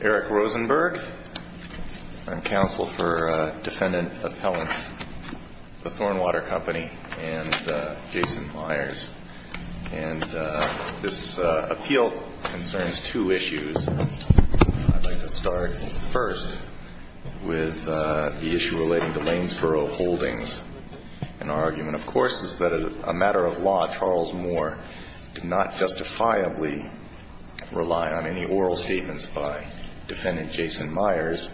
Eric Rosenberg, I'm counsel for defendant appellant for Thornwater Company and Jason Myers. And this appeal concerns two issues. I'd like to start first with the issue relating to Lanesboro Holdings. And our argument, of course, is that as a matter of law, Charles Moore did not justifiably rely on any oral statement by defendant Jason Myers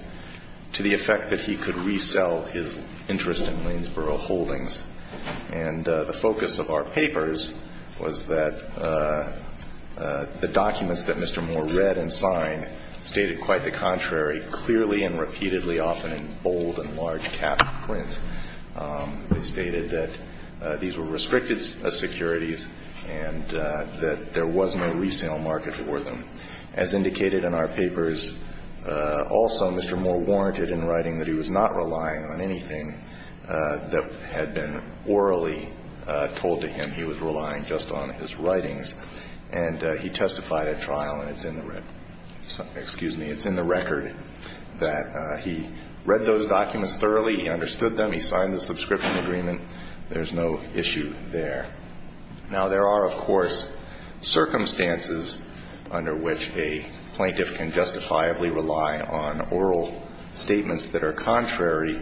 to the effect that he could resell his interest in Lanesboro Holdings. And the focus of our papers was that the documents that Mr. Moore read and signed stated quite the contrary, clearly and repeatedly, often in bold and large-cap print. They stated that these were restricted securities and that there was no resale market for them. As indicated in our papers, also, Mr. Moore warranted in writing that he was not relying on anything that had been orally told to him. He was relying just on his writings. And he testified at trial, and it's in the record that he read those documents thoroughly, he understood them, he signed the subscription agreement. There's no issue there. Now, there are, of course, circumstances under which a plaintiff can justifiably rely on oral statements that are contrary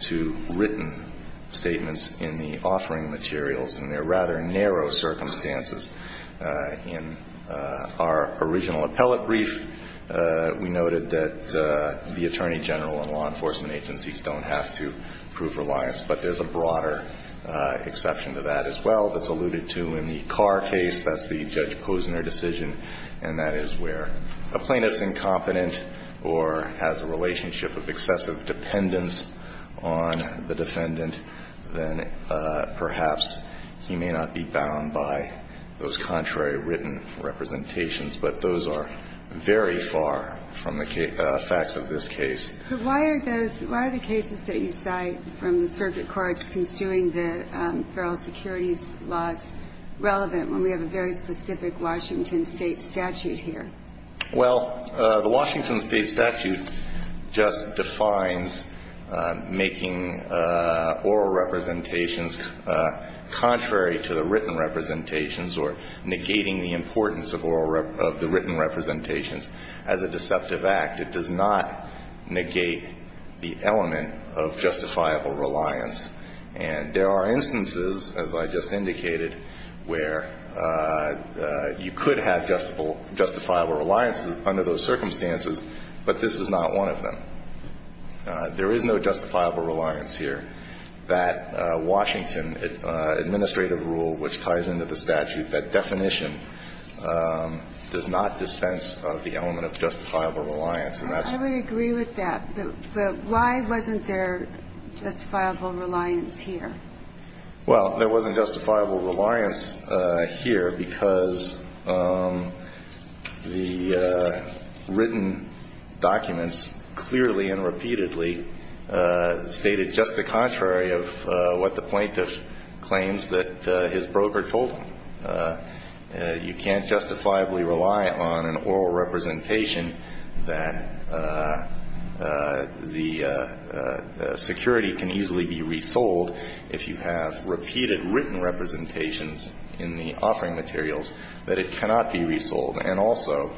to written statements in the offering materials, and they're rather narrow circumstances. In our original appellate brief, we noted that the attorney general and law enforcement agencies don't have to prove reliance, but there's a broader exception to that as well that's alluded to in the Carr case. That's the Judge Posner decision, and that is where a plaintiff's incompetent or has a relationship of excessive dependence on the defendant, then perhaps he may not be bound by those contrary written representations. But those are very far from the facts of this case. But why are those – why are the cases that you cite from the circuit courts construing the federal securities laws relevant when we have a very specific Washington State statute here? Well, the Washington State statute just defines making oral representations contrary to the written representations or negating the importance of oral – of the state statute, and that's a very broad exception to the statute. And there are instances, as I just indicated, where you could have justifiable – justifiable reliance under those circumstances, but this is not one of them. There is no justifiable reliance here. That Washington administrative rule which ties into the statute, that definition, does not dispense of the element of justifiable reliance, and that's a very broad exception to the statute. I totally agree with that, but why wasn't there justifiable reliance here? Well, there wasn't justifiable reliance here because the written documents clearly and repeatedly stated just the contrary of what the plaintiff claims that his case is, that the security can easily be resold if you have repeated written representations in the offering materials, that it cannot be resold. And also,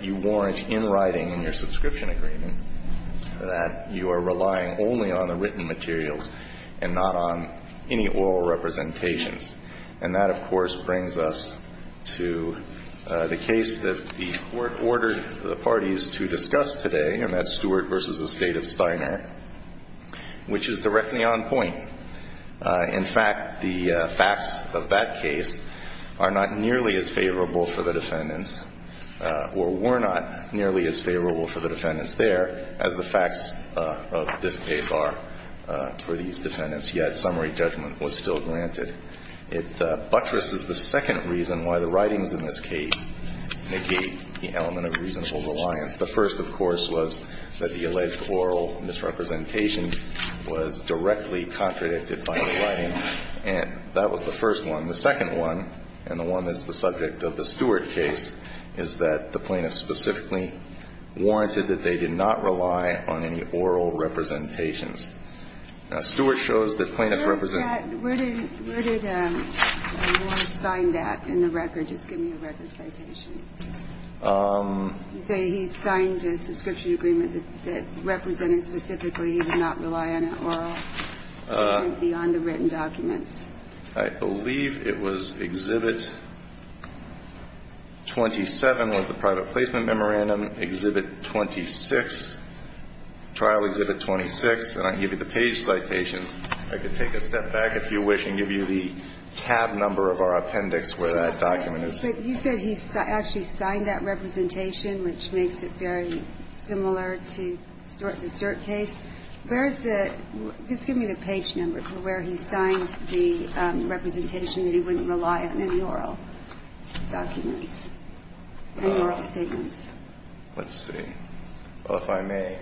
you warrant in writing in your subscription agreement that you are relying only on the written materials and not on any oral representations. And that, of course, brings us to the case that the Court ordered the parties to discuss today, and that's Stewart v. The State of Steiner, which is directly on point. In fact, the facts of that case are not nearly as favorable for the defendants or were not nearly as favorable for the defendants there as the facts of this case are for these defendants, yet summary judgment was still granted. It buttresses the second reason why the writings in this case negate the element of reasonable reliance. The first, of course, was that the alleged oral misrepresentation was directly contradicted by the writing, and that was the first one. The second one, and the one that's the subject of the Stewart case, is that the plaintiff specifically warranted that they did not rely on any oral representations. Now, Stewart shows that plaintiffs represent. Where is that? Where did Warren sign that in the record? Just give me a record citation. You say he signed a subscription agreement that represented specifically he did not rely on an oral statement beyond the written documents. I believe it was Exhibit 27 was the private placement memorandum, Exhibit 26, trial Exhibit 26, and I gave you the page citation. I could take a step back, if you wish, and give you the tab number of our appendix where that document is. But you said he actually signed that representation, which makes it very similar to the Stewart case. Where is the – just give me the page number for where he signed the representation that he wouldn't rely on any oral documents, any oral statements. Let's see. Well, if I may.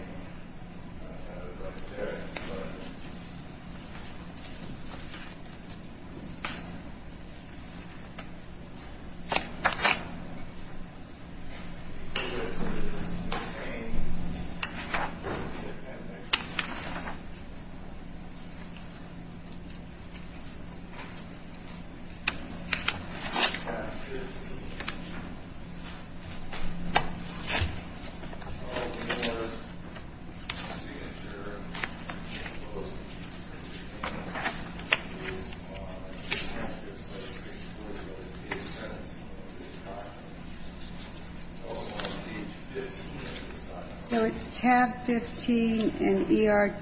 So it's tab 15 in ER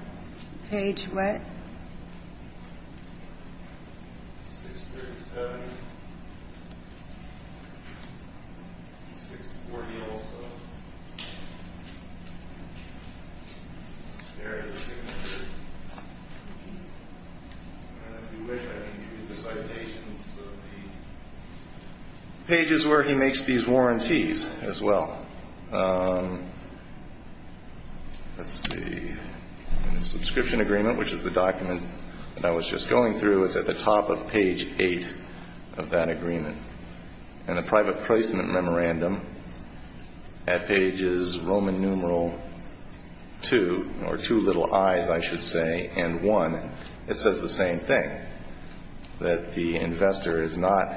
page what? Page is where he makes these warranties as well. Let's see. In the subscription agreement, which is the document that I was just going through, it's at the top of page 8 of that agreement. And the private placement memorandum at pages Roman numeral 2, or two little i's, I should say, and 1, it says the same thing, that the investor is not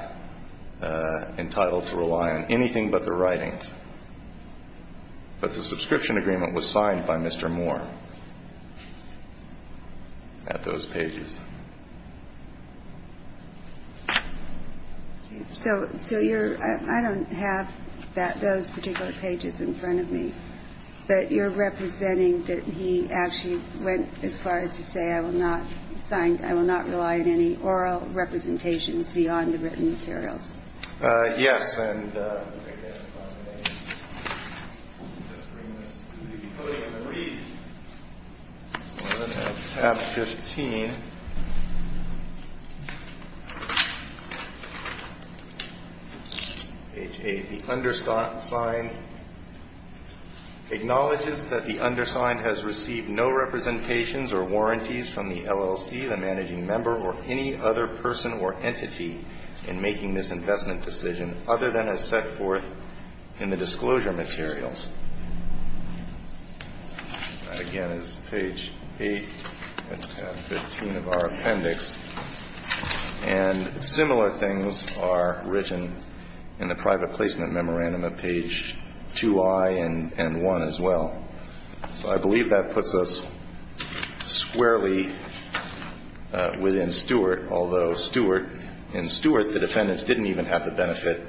entitled to rely on anything but the subscription agreement was signed by Mr. Moore at those pages. So you're – I don't have that – those particular pages in front of me, but you're representing that he actually went as far as to say I will not sign – I will not rely on any oral representations beyond the written materials. Yes. And I guess if I may, we can just bring this to the podium and read. So we're going to have tab 15, page 8. The undersigned acknowledges that the undersigned has received no representations or warranties from the LLC, the managing member, or any other person or entity in making this investment decision other than as set forth in the disclosure materials. That, again, is page 8 and tab 15 of our appendix. And similar things are written in the private placement memorandum at page 2i and 1 as well. So I believe that puts us squarely within Stewart, although Stewart – in Stewart, the defendants didn't even have the benefit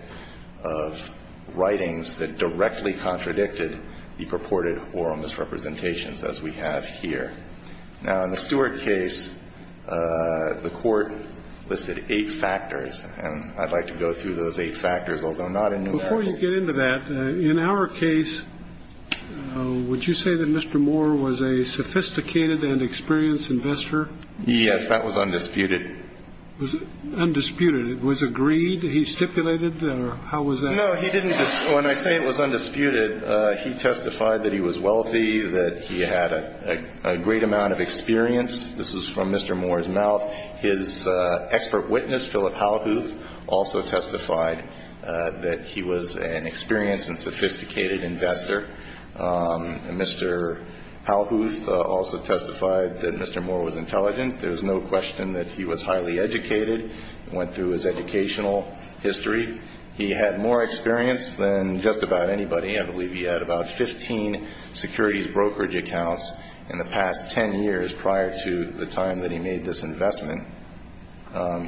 of writings that directly contradicted the purported oral misrepresentations as we have here. Now, in the Stewart case, the Court listed eight factors, and I'd like to go through those eight factors, although not in numerical. Before you get into that, in our case, would you say that Mr. Moore was a sophisticated and experienced investor? Yes, that was undisputed. Undisputed. It was agreed? He stipulated? Or how was that? No, he didn't – when I say it was undisputed, he testified that he was wealthy, that he had a great amount of experience. This was from Mr. Moore's mouth. His expert witness, Philip Howhooth, also testified that he was an experienced and sophisticated investor. Mr. Howhooth also testified that Mr. Moore was intelligent. There's no question that he was highly educated and went through his educational history. He had more experience than just about anybody. I believe he had about 15 securities brokerage accounts in the past 10 years prior to the time that he made this investment.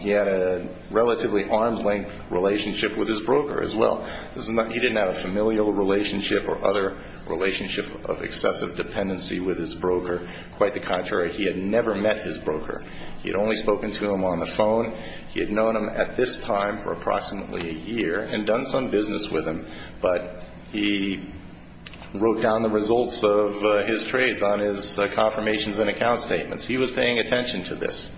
He had a relatively arm's-length relationship with his broker as well. He didn't have a familial relationship or other relationship of excessive dependency with his broker. Quite the contrary, he had never met his broker. He had only spoken to him on the phone. He had known him at this time for approximately a year and done some business with him, but he wrote down the results of his trades on his confirmations and account statements. He was paying attention to this.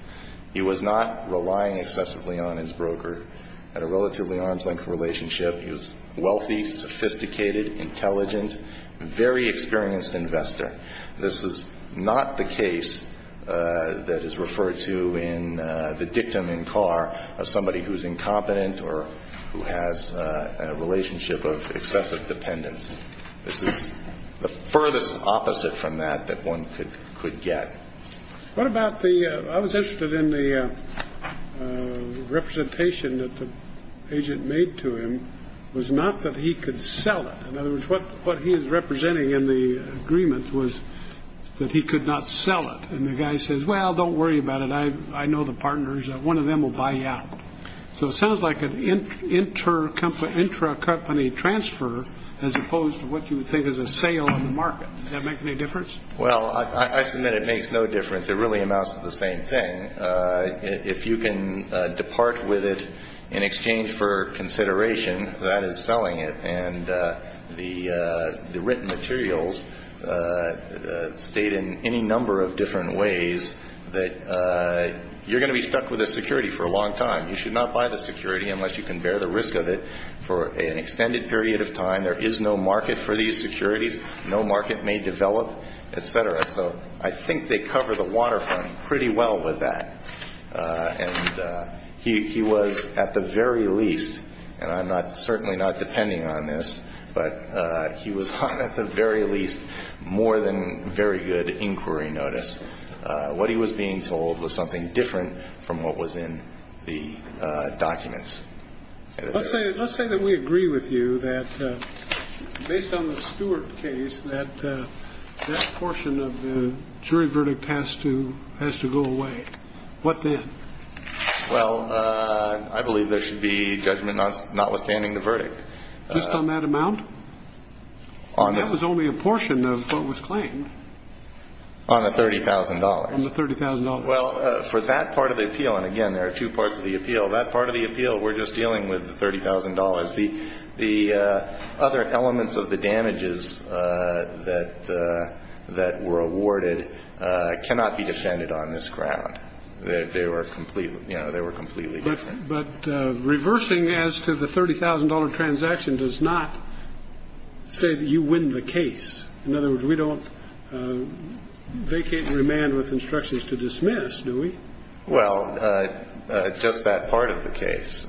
He was not relying excessively on his broker. He had a relatively arm's-length relationship. He was wealthy, sophisticated, intelligent, very experienced investor. This is not the case that is referred to in the dictum in Carr of somebody who's incompetent or who has a relationship of excessive dependence. This is the furthest opposite from that that one could get. What about the I was interested in the representation that the agent made to him was not that he could sell it. In other words, what what he is representing in the agreement was that he could not sell it. And the guy says, well, don't worry about it. I know the partners. One of them will buy you out. So it sounds like an intercompany, intracompany transfer, as opposed to what you would think is a sale on the market. Does that make any difference? Well, I submit it makes no difference. It really amounts to the same thing. If you can depart with it in exchange for consideration, that is selling it. And the written materials state in any number of different ways that you're going to be stuck with a security for a long time. You should not buy the security unless you can bear the risk of it for an extended period of time. There is no market for these securities. No market may develop, et cetera. So I think they cover the waterfront pretty well with that. And he was at the very least and I'm not certainly not depending on this, but he was at the very least more than very good inquiry notice. What he was being told was something different from what was in the documents. Let's say let's say that we agree with you that based on the Stuart case, that that portion of the jury verdict has to has to go away. What then? Well, I believe there should be judgment notwithstanding the verdict. Just on that amount. That was only a portion of what was claimed. On the thirty thousand dollars. On the thirty thousand dollars. Well, for that part of the appeal. And again, there are two parts of the appeal. That part of the appeal, we're just dealing with the thirty thousand dollars. The the other elements of the damages that that were awarded cannot be defended on this ground. They were completely you know, they were completely different. But reversing as to the thirty thousand dollar transaction does not say that you win the case. In other words, we don't vacate and remand with instructions to dismiss, do we? Well, just that part of the case.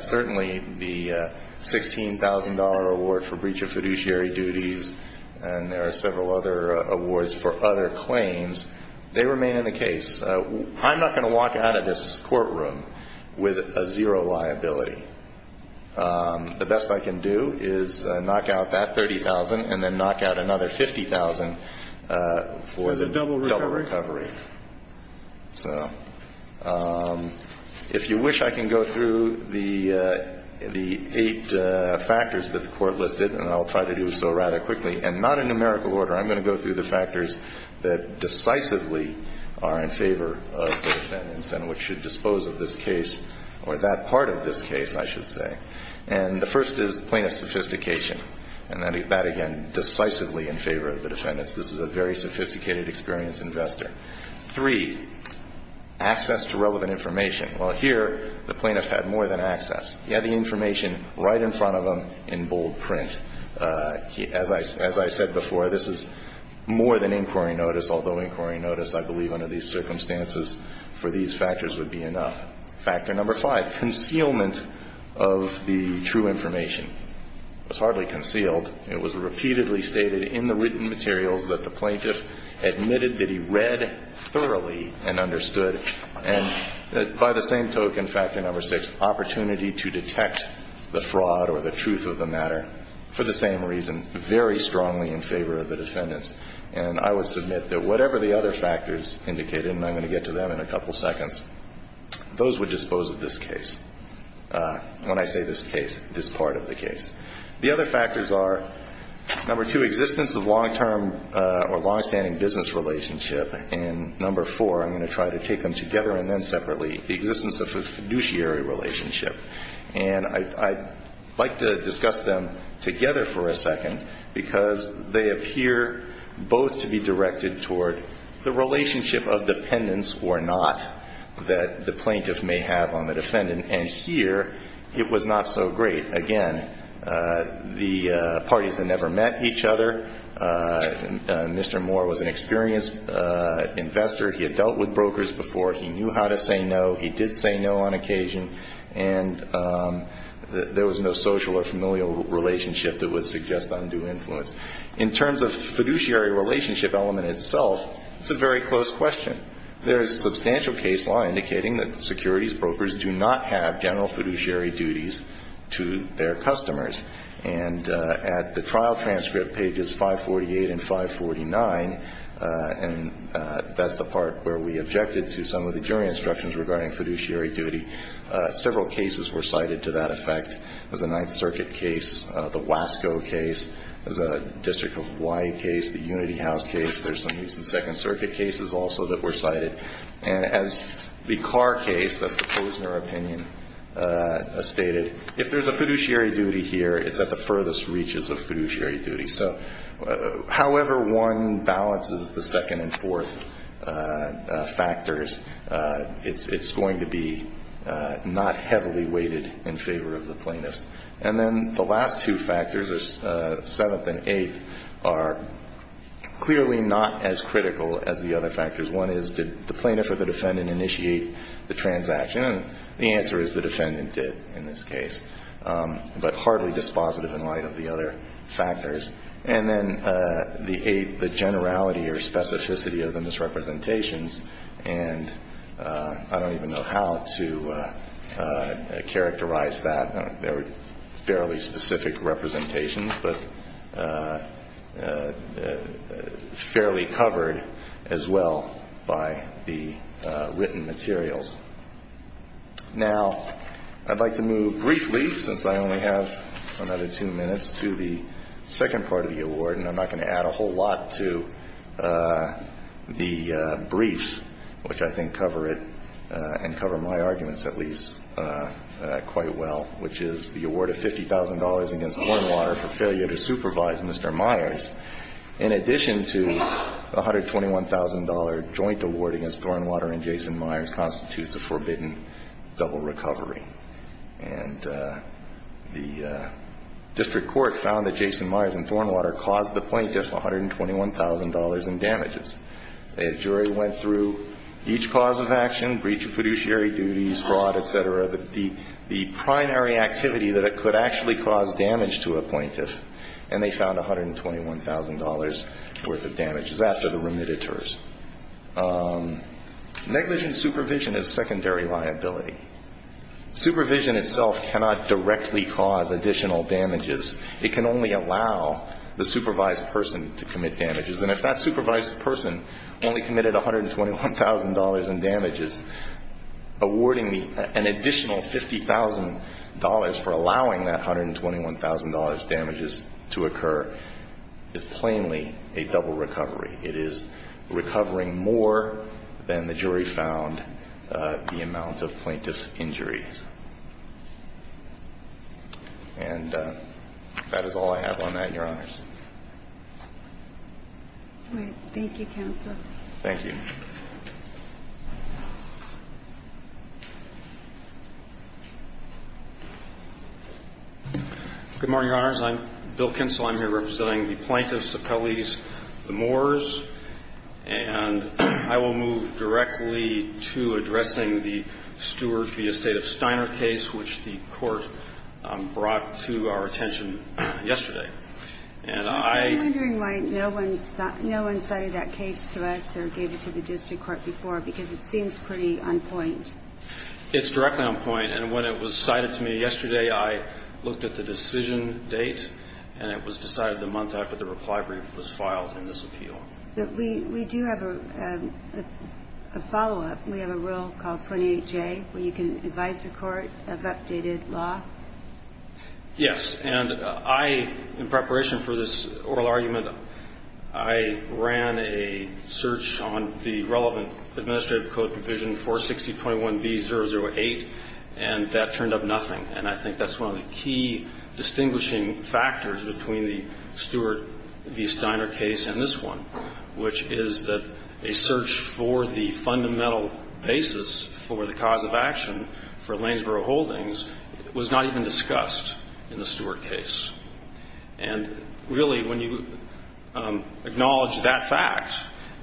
Certainly the sixteen thousand dollar award for breach of fiduciary duties. And there are several other awards for other claims. They remain in the case. I'm not going to walk out of this courtroom with a zero liability. The best I can do is knock out that thirty thousand and then knock out another fifty thousand for the double recovery. So if you wish, I can go through the the eight factors that the court listed and I'll try to do so rather quickly. And not in numerical order. I'm going to go through the factors that decisively are in favor of the defendants and which should dispose of this case or that part of this case, I should say. And the first is plaintiff's sophistication. And that again, decisively in favor of the defendants. This is a very sophisticated, experienced investor. Three, access to relevant information. Well, here the plaintiff had more than access. He had the information right in front of him in bold print. As I said before, this is more than inquiry notice, although inquiry notice, I believe under these circumstances for these factors would be enough. Factor number five, concealment of the true information. It was hardly concealed. It was repeatedly stated in the written materials that the plaintiff admitted that he read thoroughly and understood. And by the same token, factor number six, opportunity to detect the fraud or the truth of the matter. For the same reason, very strongly in favor of the defendants. And I would submit that whatever the other factors indicated, and I'm going to get to them in a couple seconds, those would dispose of this case, when I say this case, this part of the case. The other factors are, number two, existence of long-term or long-standing business relationship. And number four, I'm going to try to take them together and then separately, the existence of a fiduciary relationship. And I'd like to discuss them together for a second, because they appear both to be directed toward the relationship of dependence or not that the plaintiff may have on the defendant. And here it was not so great. Again, the parties had never met each other. Mr. Moore was an experienced investor. He had dealt with brokers before. He knew how to say no. He did say no on occasion. And there was no social or familial relationship that would suggest undue influence. In terms of fiduciary relationship element itself, it's a very close question. There is substantial case law indicating that securities brokers do not have general fiduciary duties to their customers. And at the trial transcript, pages 548 and 549, and that's the part where we objected to some of the jury instructions regarding fiduciary duty, several cases were cited to that effect. There's a Ninth Circuit case, the Wasco case, there's a District of Hawaii case, the Unity House case. There's some Second Circuit cases also that were cited. And as the Carr case, that's the Posner opinion, stated, if there's a fiduciary duty here, it's at the furthest reaches of fiduciary duty. So however one balances the second and fourth factors, it's going to be not heavily weighted in favor of the plaintiffs. And then the last two factors, the seventh and eighth, are clearly not as critical as the other factors. One is, did the plaintiff or the defendant initiate the transaction? And the answer is the defendant did in this case, but hardly dispositive in light of the other factors. And then the eighth, the generality or specificity of the misrepresentations. And I don't even know how to characterize that. There were fairly specific representations, but fairly covered as well by the written materials. Now, I'd like to move briefly, since I only have another two minutes, to the second part of the award. And I'm not going to add a whole lot to the briefs, which I think cover it and cover my arguments at least quite well, which is the award of $50,000 against Thornwater for failure to supervise Mr. Myers. In addition to the $121,000 joint award against Thornwater and Jason Myers constitutes a forbidden double recovery. And the district court found that Jason Myers and Thornwater caused the plaintiff $121,000 in damages. A jury went through each cause of action, breach of fiduciary duties, fraud, et cetera. The primary activity that it could actually cause damage to a plaintiff. And they found $121,000 worth of damages after the remittitures. Negligent supervision is a secondary liability. Supervision itself cannot directly cause additional damages. It can only allow the supervised person to commit damages. And if that supervised person only committed $121,000 in damages, awarding an additional $50,000 for allowing that $121,000 damages to occur is plainly a double recovery. It is recovering more than the jury found the amount of plaintiff's injuries. And that is all I have on that, Your Honors. Thank you, Counsel. Thank you. Good morning, Your Honors. I'm Bill Kinsel. I'm here representing the plaintiffs, the Pelley's, the Moore's. And I will move directly to addressing the Stewart v. State of Steiner case, which the Court brought to our attention yesterday. And I ---- I'm wondering why no one cited that case to us or gave it to the district court before, because it seems pretty on point. It's directly on point. And when it was cited to me yesterday, I looked at the decision date and it was decided the month after the reply brief was filed in this appeal. We do have a follow-up. We have a rule called 28J where you can advise the court of updated law. Yes. And I, in preparation for this oral argument, I ran a search on the relevant administrative code provision 460.1b.008, and that turned up nothing. And I think that's one of the key distinguishing factors between the Stewart v. Steiner case and this one, which is that a search for the fundamental basis for the cause of action for Lanesboro Holdings was not even discussed in the Stewart case. And really, when you acknowledge that fact,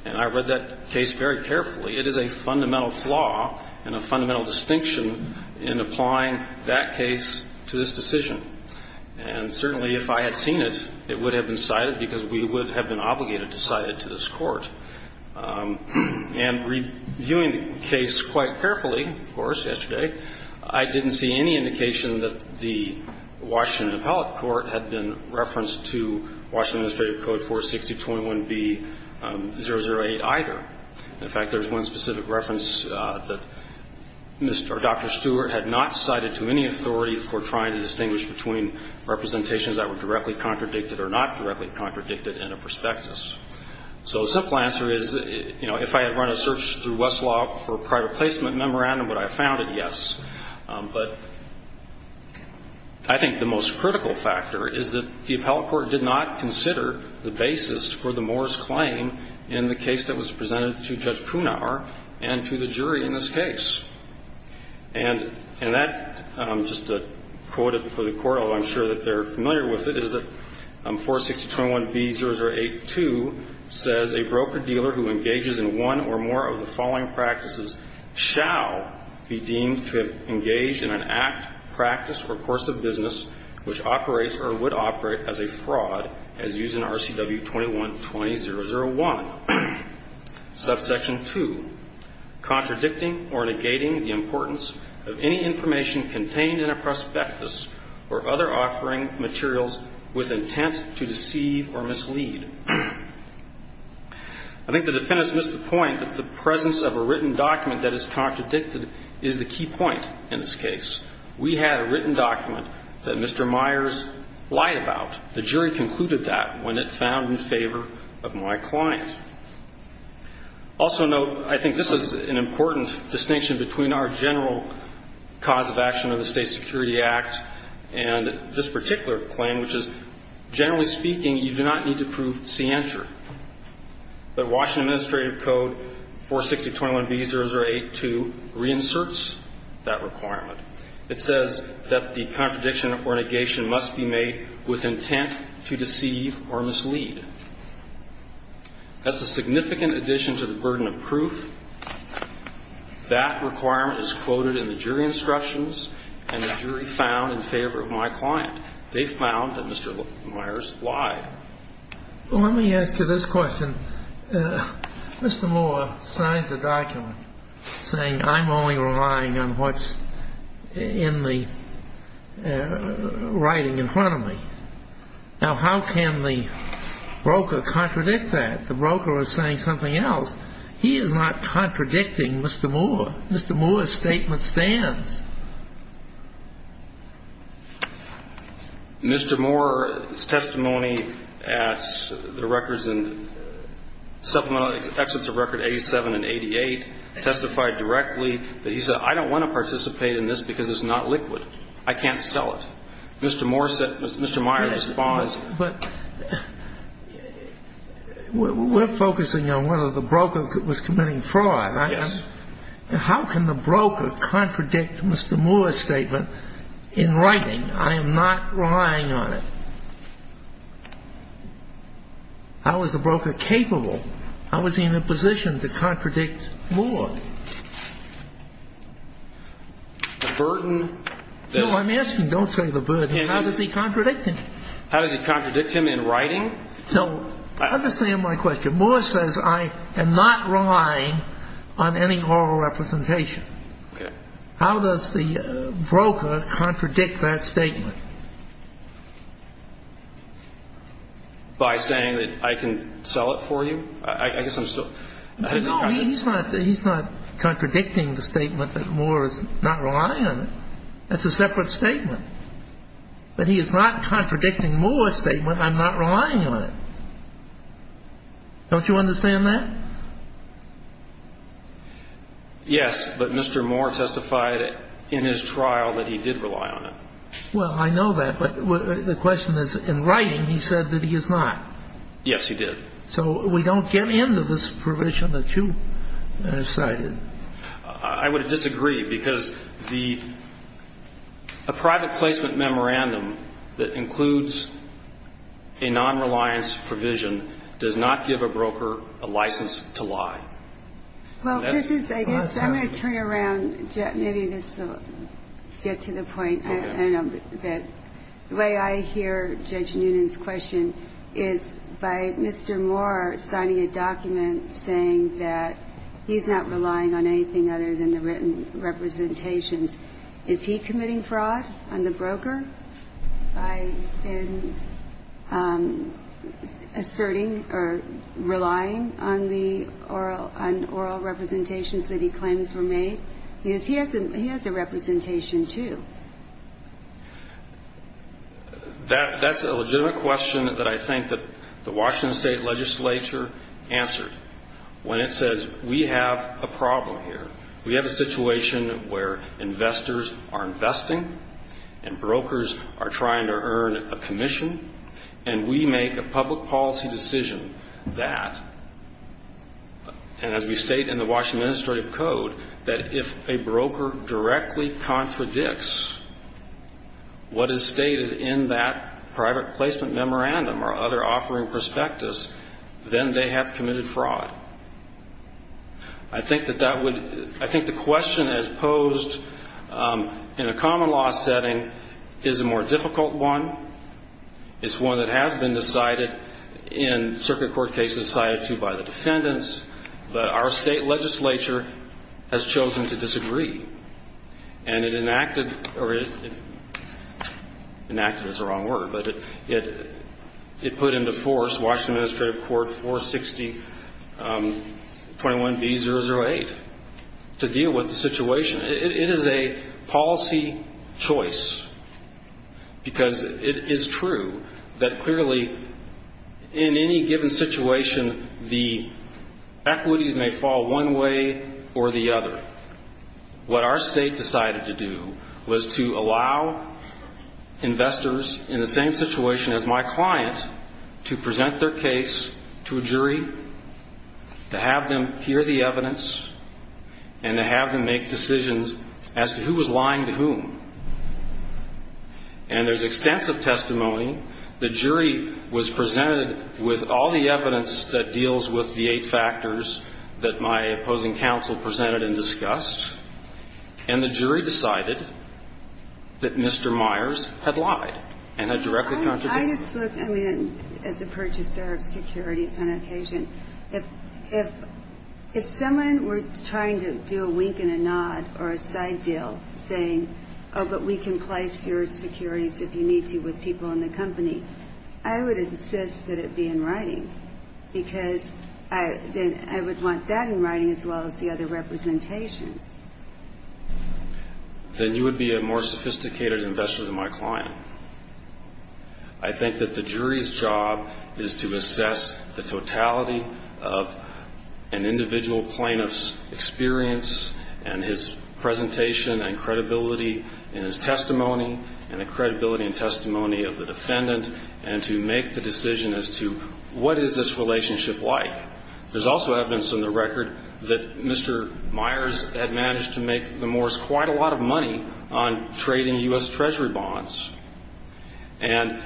and I read that case very carefully, it is a fundamental flaw and a fundamental distinction in applying that case to this decision. And certainly, if I had seen it, it would have been cited because we would have been obligated to cite it to this court. And reviewing the case quite carefully, of course, yesterday, I didn't see any indication that the Washington Appellate Court had been referenced to Washington Administrative Code 460.21b.008 either. In fact, there's one specific reference that Mr. or Dr. Stewart had not cited to any authority for trying to distinguish between representations that were directly contradicted or not directly contradicted in a prospectus. So the simple answer is, you know, if I had run a search through Westlaw for a private placement memorandum, would I have found it? Yes. But I think the most critical factor is that the appellate court did not consider the basis for the Moore's claim in the case that was presented to Judge Kunauer and to the jury in this case. And that, just to quote it for the court, although I'm sure that they're familiar with it, is that 460.21b.008-2 says, A broker-dealer who engages in one or more of the following practices shall be deemed to have engaged in an act, practice, or course of business which operates or would operate as a fraud as used in RCW 21-2001. Subsection 2, contradicting or negating the importance of any information contained in a prospectus or other offering materials with intent to deceive or mislead. I think the defendants missed the point that the presence of a written document that is contradicted is the key point in this case. We had a written document that Mr. Myers lied about. The jury concluded that when it found in favor of my client. Also note, I think this is an important distinction between our general cause of action of the State Security Act and this particular claim, which is, generally speaking, you do not need to prove scienter. The Washington Administrative Code 460.21b.008-2 reinserts that requirement. It says that the contradiction or negation must be made with intent to deceive or mislead. That's a significant addition to the burden of proof. That requirement is quoted in the jury instructions and the jury found in favor of my client. They found that Mr. Myers lied. Let me ask you this question. Mr. Moore signs the document saying I'm only relying on what's in the writing in front of me. Now, how can the broker contradict that? The broker is saying something else. He is not contradicting Mr. Moore. Mr. Moore's statement stands. Mr. Moore's testimony at the records and supplemental exits of record 87 and 88 testified directly that he said, I don't want to participate in this because it's not liquid. I can't sell it. Mr. Moore said Mr. Myers was false. But we're focusing on one of the brokers that was committing fraud. Yes. How can the broker contradict Mr. Moore's statement in writing? I am not relying on it. How is the broker capable? How is he in a position to contradict Moore? No, I'm asking don't say the burden. How does he contradict him? How does he contradict him in writing? No. Understand my question. Moore says I am not relying on any oral representation. Okay. How does the broker contradict that statement? By saying that I can sell it for you? I guess I'm still ‑‑ No, he's not contradicting the statement that Moore is not relying on it. That's a separate statement. But he is not contradicting Moore's statement I'm not relying on it. Don't you understand that? Yes. But Mr. Moore testified in his trial that he did rely on it. Well, I know that. But the question is in writing he said that he is not. Yes, he did. So we don't get into this provision that you cited. I would disagree because the private placement memorandum that includes a nonreliance provision does not give a broker a license to lie. Well, this is, I guess, I'm going to turn around. Maybe this will get to the point. Okay. I don't know. The way I hear Judge Noonan's question is by Mr. Moore signing a document saying that he's not relying on anything other than the written representations. Is he committing fraud on the broker by asserting or relying on the oral representations that he claims were made? He has a representation, too. That's a legitimate question that I think the Washington State Legislature answered. When it says we have a problem here, we have a situation where investors are investing and brokers are trying to earn a commission, and we make a public policy decision that, and as we state in the Washington Administrative Code, that if a broker directly contradicts what is stated in that private placement memorandum or other offering prospectus, then they have committed fraud. I think the question as posed in a common law setting is a more difficult one. It's one that has been decided in circuit court cases, decided, too, by the defendants, but our state legislature has chosen to disagree. And it enacted, or it enacted is the wrong word, but it put into force Washington Administrative Court 46021B008 to deal with the situation. It is a policy choice because it is true that clearly in any given situation, the equities may fall one way or the other. What our state decided to do was to allow investors in the same situation as my client to present their case to a jury, to have them hear the evidence, and to have them make decisions as to who was lying to whom. And there's extensive testimony. The jury was presented with all the evidence that deals with the eight factors that my opposing counsel presented and discussed, and the jury decided that Mr. Myers had lied and had directly contradicted. I just look, I mean, as a purchaser of securities on occasion, if someone were trying to do a wink and a nod or a side deal saying, oh, but we can place your securities if you need to with people in the company, I would insist that it be in writing because I would want that in writing as well as the other representations. Then you would be a more sophisticated investor than my client. I think that the jury's job is to assess the totality of an individual plaintiff's experience and his presentation and credibility in his testimony and the credibility and testimony of the defendant and to make the decision as to what is this relationship like. There's also evidence in the record that Mr. Myers had managed to make the Moores quite a lot of money on trading U.S. Treasury bonds. And,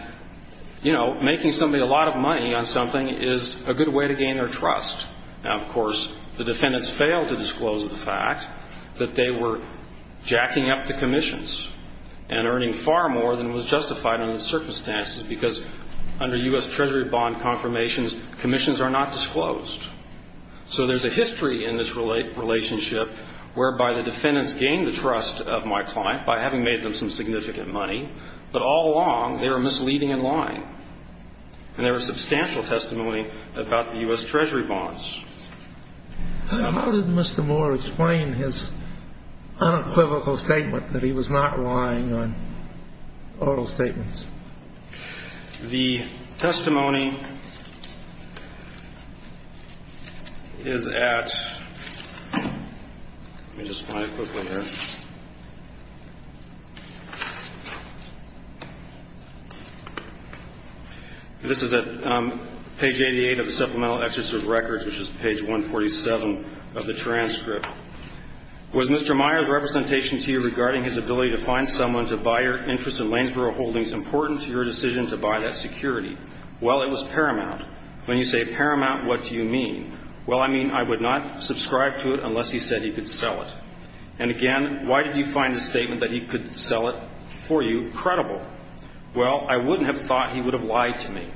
you know, making somebody a lot of money on something is a good way to gain their trust. Now, of course, the defendants failed to disclose the fact that they were jacking up the commissions and earning far more than was justified under the circumstances because under U.S. Treasury bond confirmations, commissions are not disclosed. So there's a history in this relationship whereby the defendants gained the trust of my client by having made them some significant money, but all along they were misleading and lying. And there was substantial testimony about the U.S. Treasury bonds. How did Mr. Moore explain his unequivocal statement that he was not lying on oral statements? The testimony is at, let me just find it quickly here. This is at page 88 of the Supplemental Excerpt of Records, which is page 147 of the transcript. Was Mr. Myers' representation to you regarding his ability to find someone to buy your interest in Lanesboro Holdings important to your decision to buy that security? Well, it was paramount. When you say paramount, what do you mean? Well, I mean I would not subscribe to it unless he said he could sell it. And, again, why did you find his statement that he could sell it for you credible? Well, I wouldn't have thought he would have lied to me.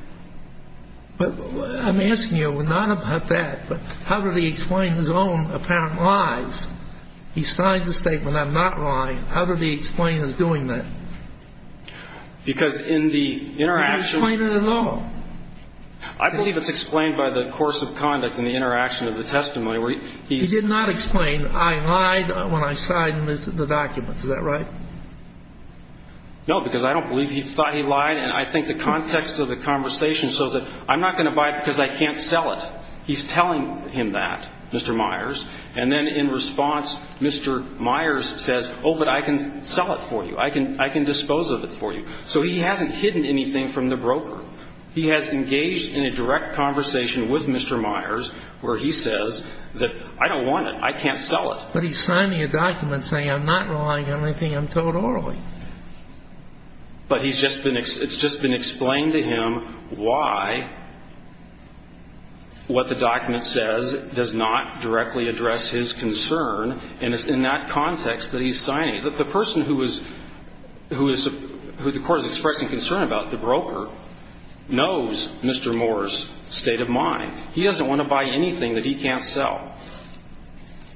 I'm asking you not about that, but how did he explain his own apparent lies? He signed the statement, I'm not lying. How did he explain his doing that? Because in the interaction. He didn't explain it at all. I believe it's explained by the course of conduct and the interaction of the testimony. He did not explain I lied when I signed the document. Is that right? No, because I don't believe he thought he lied. And I think the context of the conversation shows that I'm not going to buy it because I can't sell it. He's telling him that, Mr. Myers. And then in response, Mr. Myers says, oh, but I can sell it for you. I can dispose of it for you. So he hasn't hidden anything from the broker. He has engaged in a direct conversation with Mr. Myers where he says that I don't want it. I can't sell it. But he's signing a document saying I'm not lying. The only thing I'm told orally. But it's just been explained to him why what the document says does not directly address his concern. And it's in that context that he's signing. The person who the court is expressing concern about, the broker, knows Mr. Moore's state of mind. He doesn't want to buy anything that he can't sell.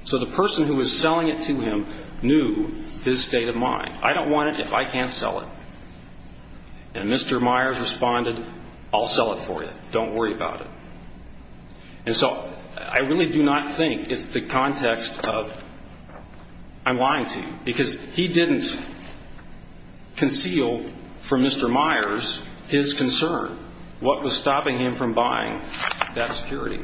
So the person who is selling it to him knew his state of mind. I don't want it if I can't sell it. And Mr. Myers responded, I'll sell it for you. Don't worry about it. And so I really do not think it's the context of I'm lying to you. Because he didn't conceal from Mr. Myers his concern. What was stopping him from buying that security?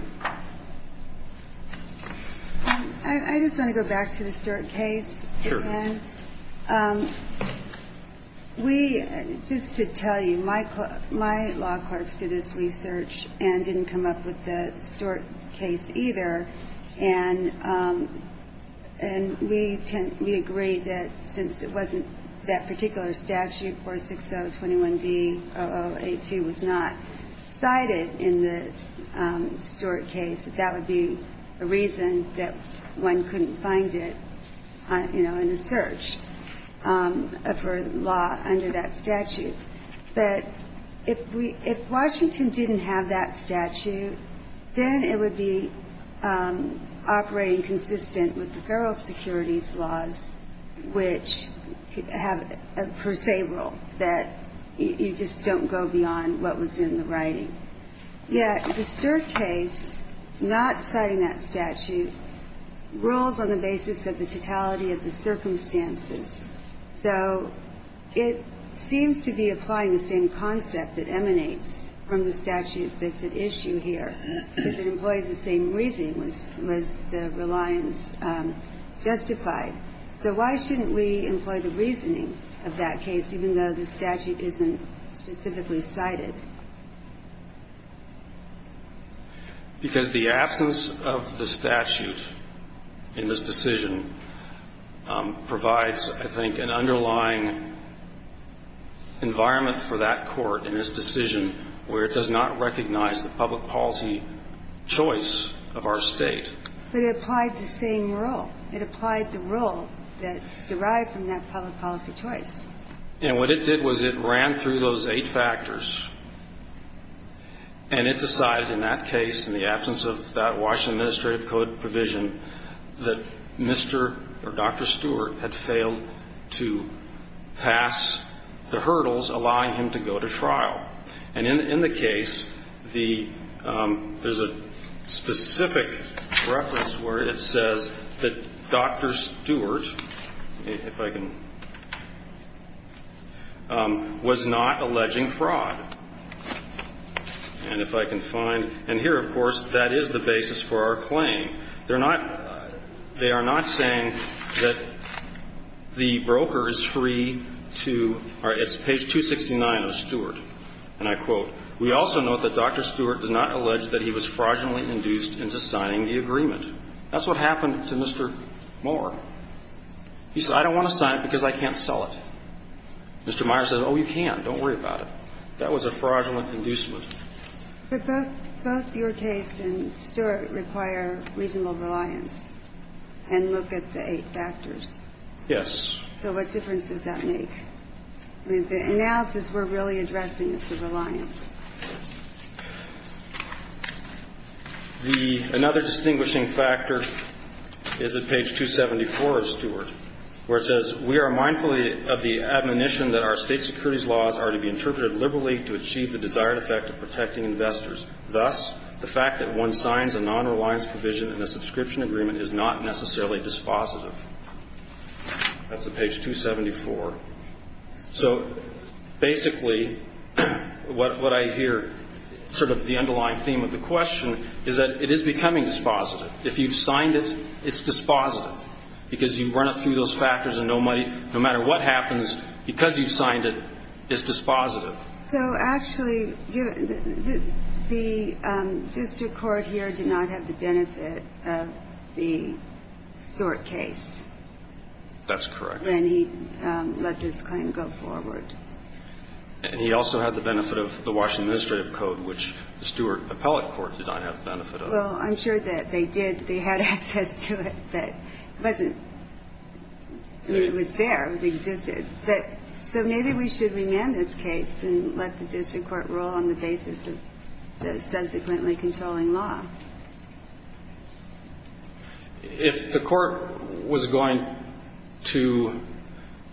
I just want to go back to the Stewart case again. Sure. We, just to tell you, my law clerks did this research and didn't come up with the Stewart case either. And we agree that since it wasn't that particular statute, 46021B0082, was not cited in the Stewart case, that that would be a reason that one couldn't find it, you know, in the search for law under that statute. But if Washington didn't have that statute, then it would be operating consistent with the federal securities laws, which have a per se rule that you just don't go beyond what was in the writing. Yet the Stewart case, not citing that statute, rules on the basis of the totality of the circumstances. So it seems to be applying the same concept that emanates from the statute that's at issue here, because it employs the same reasoning as the reliance justified. So why shouldn't we employ the reasoning of that case, even though the statute isn't specifically cited? Because the absence of the statute in this decision provides, I think, an underlying environment for that court in this decision where it does not recognize the public policy choice of our State. But it applied the same rule. It applied the rule that's derived from that public policy choice. And what it did was it ran through those eight factors, and it decided in that case, in the absence of that Washington administrative code provision, that Mr. or Dr. Stewart had failed to pass the hurdles allowing him to go to trial. And in the case, there's a specific reference where it says that Dr. Stewart, if I can, was not alleging fraud. And if I can find. And here, of course, that is the basis for our claim. They're not they are not saying that the broker is free to or it's page 269 of Stewart. And I quote, We also note that Dr. Stewart did not allege that he was fraudulently induced into signing the agreement. That's what happened to Mr. Moore. He said, I don't want to sign it because I can't sell it. Mr. Meyer said, oh, you can. Don't worry about it. That was a fraudulent inducement. But both your case and Stewart require reasonable reliance and look at the eight factors. Yes. So what difference does that make? The analysis we're really addressing is the reliance. The another distinguishing factor is at page 274 of Stewart, where it says, We are mindful of the admonition that our state securities laws are to be interpreted liberally to achieve the desired effect of protecting investors. Thus, the fact that one signs a nonreliance provision in a subscription agreement is not necessarily dispositive. That's at page 274. So basically, what I hear, sort of the underlying theme of the question, is that it is becoming dispositive. If you've signed it, it's dispositive because you've run it through those factors and no matter what happens, because you've signed it, it's dispositive. So actually, the district court here did not have the benefit of the Stewart case. That's correct. And he let this claim go forward. And he also had the benefit of the Washington administrative code, which the Stewart appellate court did not have the benefit of. Well, I'm sure that they did. They had access to it, but it wasn't there. It existed. So maybe we should remand this case and let the district court rule on the basis of the subsequently controlling law. If the court was going to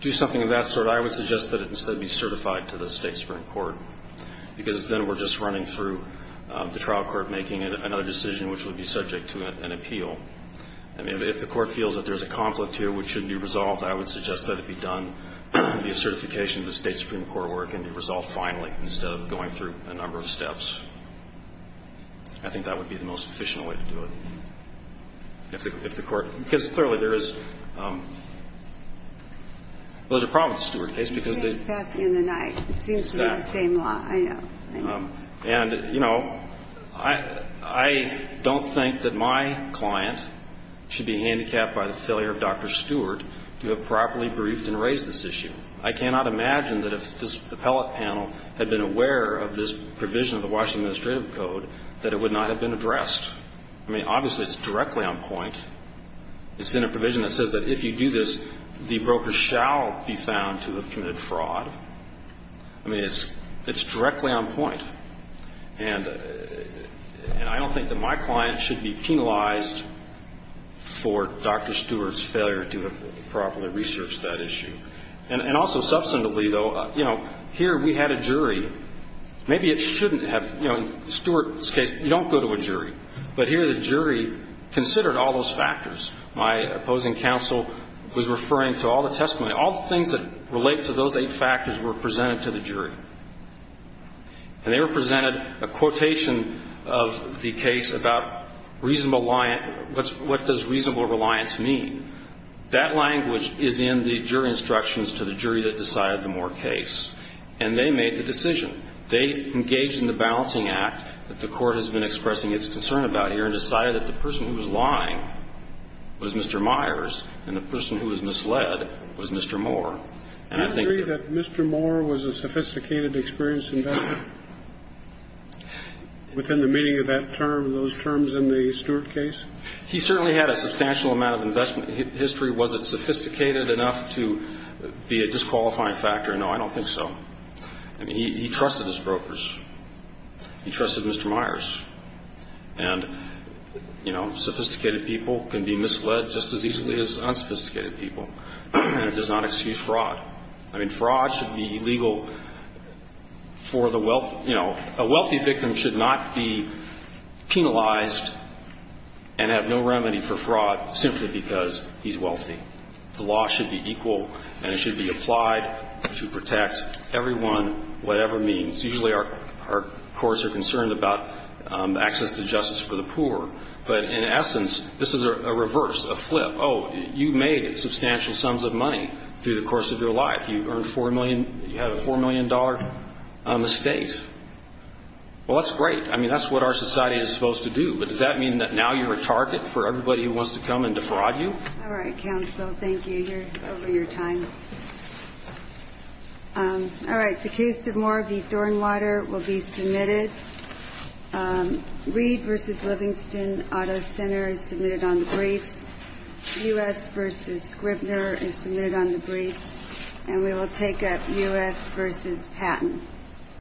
do something of that sort, I would suggest that it instead be certified to the State Supreme Court, because then we're just running through the trial court making another decision which would be subject to an appeal. I mean, if the court feels that there's a conflict here which should be resolved, I would suggest that it be done, be a certification to the State Supreme Court where it can be resolved finally instead of going through a number of steps. I think that would be the most efficient way to do it. Because clearly there is a problem with the Stewart case because they've been passed in the night. It seems to be the same law. I know. I know. And, you know, I don't think that my client should be handicapped by the failure of Dr. Stewart to have properly briefed and raised this issue. I cannot imagine that if this appellate panel had been aware of this provision of the Washington Administrative Code that it would not have been addressed. I mean, obviously it's directly on point. It's in a provision that says that if you do this, the broker shall be found to have committed fraud. I mean, it's directly on point. And I don't think that my client should be penalized for Dr. Stewart's failure to have properly researched that issue. And also substantively, though, you know, here we had a jury. Maybe it shouldn't have, you know, Stewart's case, you don't go to a jury. But here the jury considered all those factors. My opposing counsel was referring to all the testimony, all the things that relate to those eight factors were presented to the jury. And they were presented a quotation of the case about reasonable reliance, what does reasonable reliance mean. That language is in the jury instructions to the jury that decided the Moore case. And they made the decision. They engaged in the balancing act that the court has been expressing its concern about here and decided that the person who was lying was Mr. Myers and the person who was misled was Mr. Moore. Do you agree that Mr. Moore was a sophisticated, experienced investor within the meaning of that term, those terms in the Stewart case? He certainly had a substantial amount of investment history. Was it sophisticated enough to be a disqualifying factor? No, I don't think so. I mean, he trusted his brokers. He trusted Mr. Myers. And, you know, sophisticated people can be misled just as easily as unsophisticated people. And it does not excuse fraud. I mean, fraud should be legal for the wealthy. You know, a wealthy victim should not be penalized and have no remedy for fraud simply because he's wealthy. The law should be equal and it should be applied to protect everyone, whatever means. Usually our courts are concerned about access to justice for the poor. But in essence, this is a reverse, a flip. Oh, you made substantial sums of money through the course of your life. You have a $4 million estate. Well, that's great. I mean, that's what our society is supposed to do. But does that mean that now you're a target for everybody who wants to come and defraud you? All right, counsel. Thank you. You're over your time. All right. The case of Moore v. Thornwater will be submitted. Reed v. Livingston Auto Center is submitted on the briefs. U.S. v. Scribner is submitted on the briefs. And we will take up U.S. v. Patton.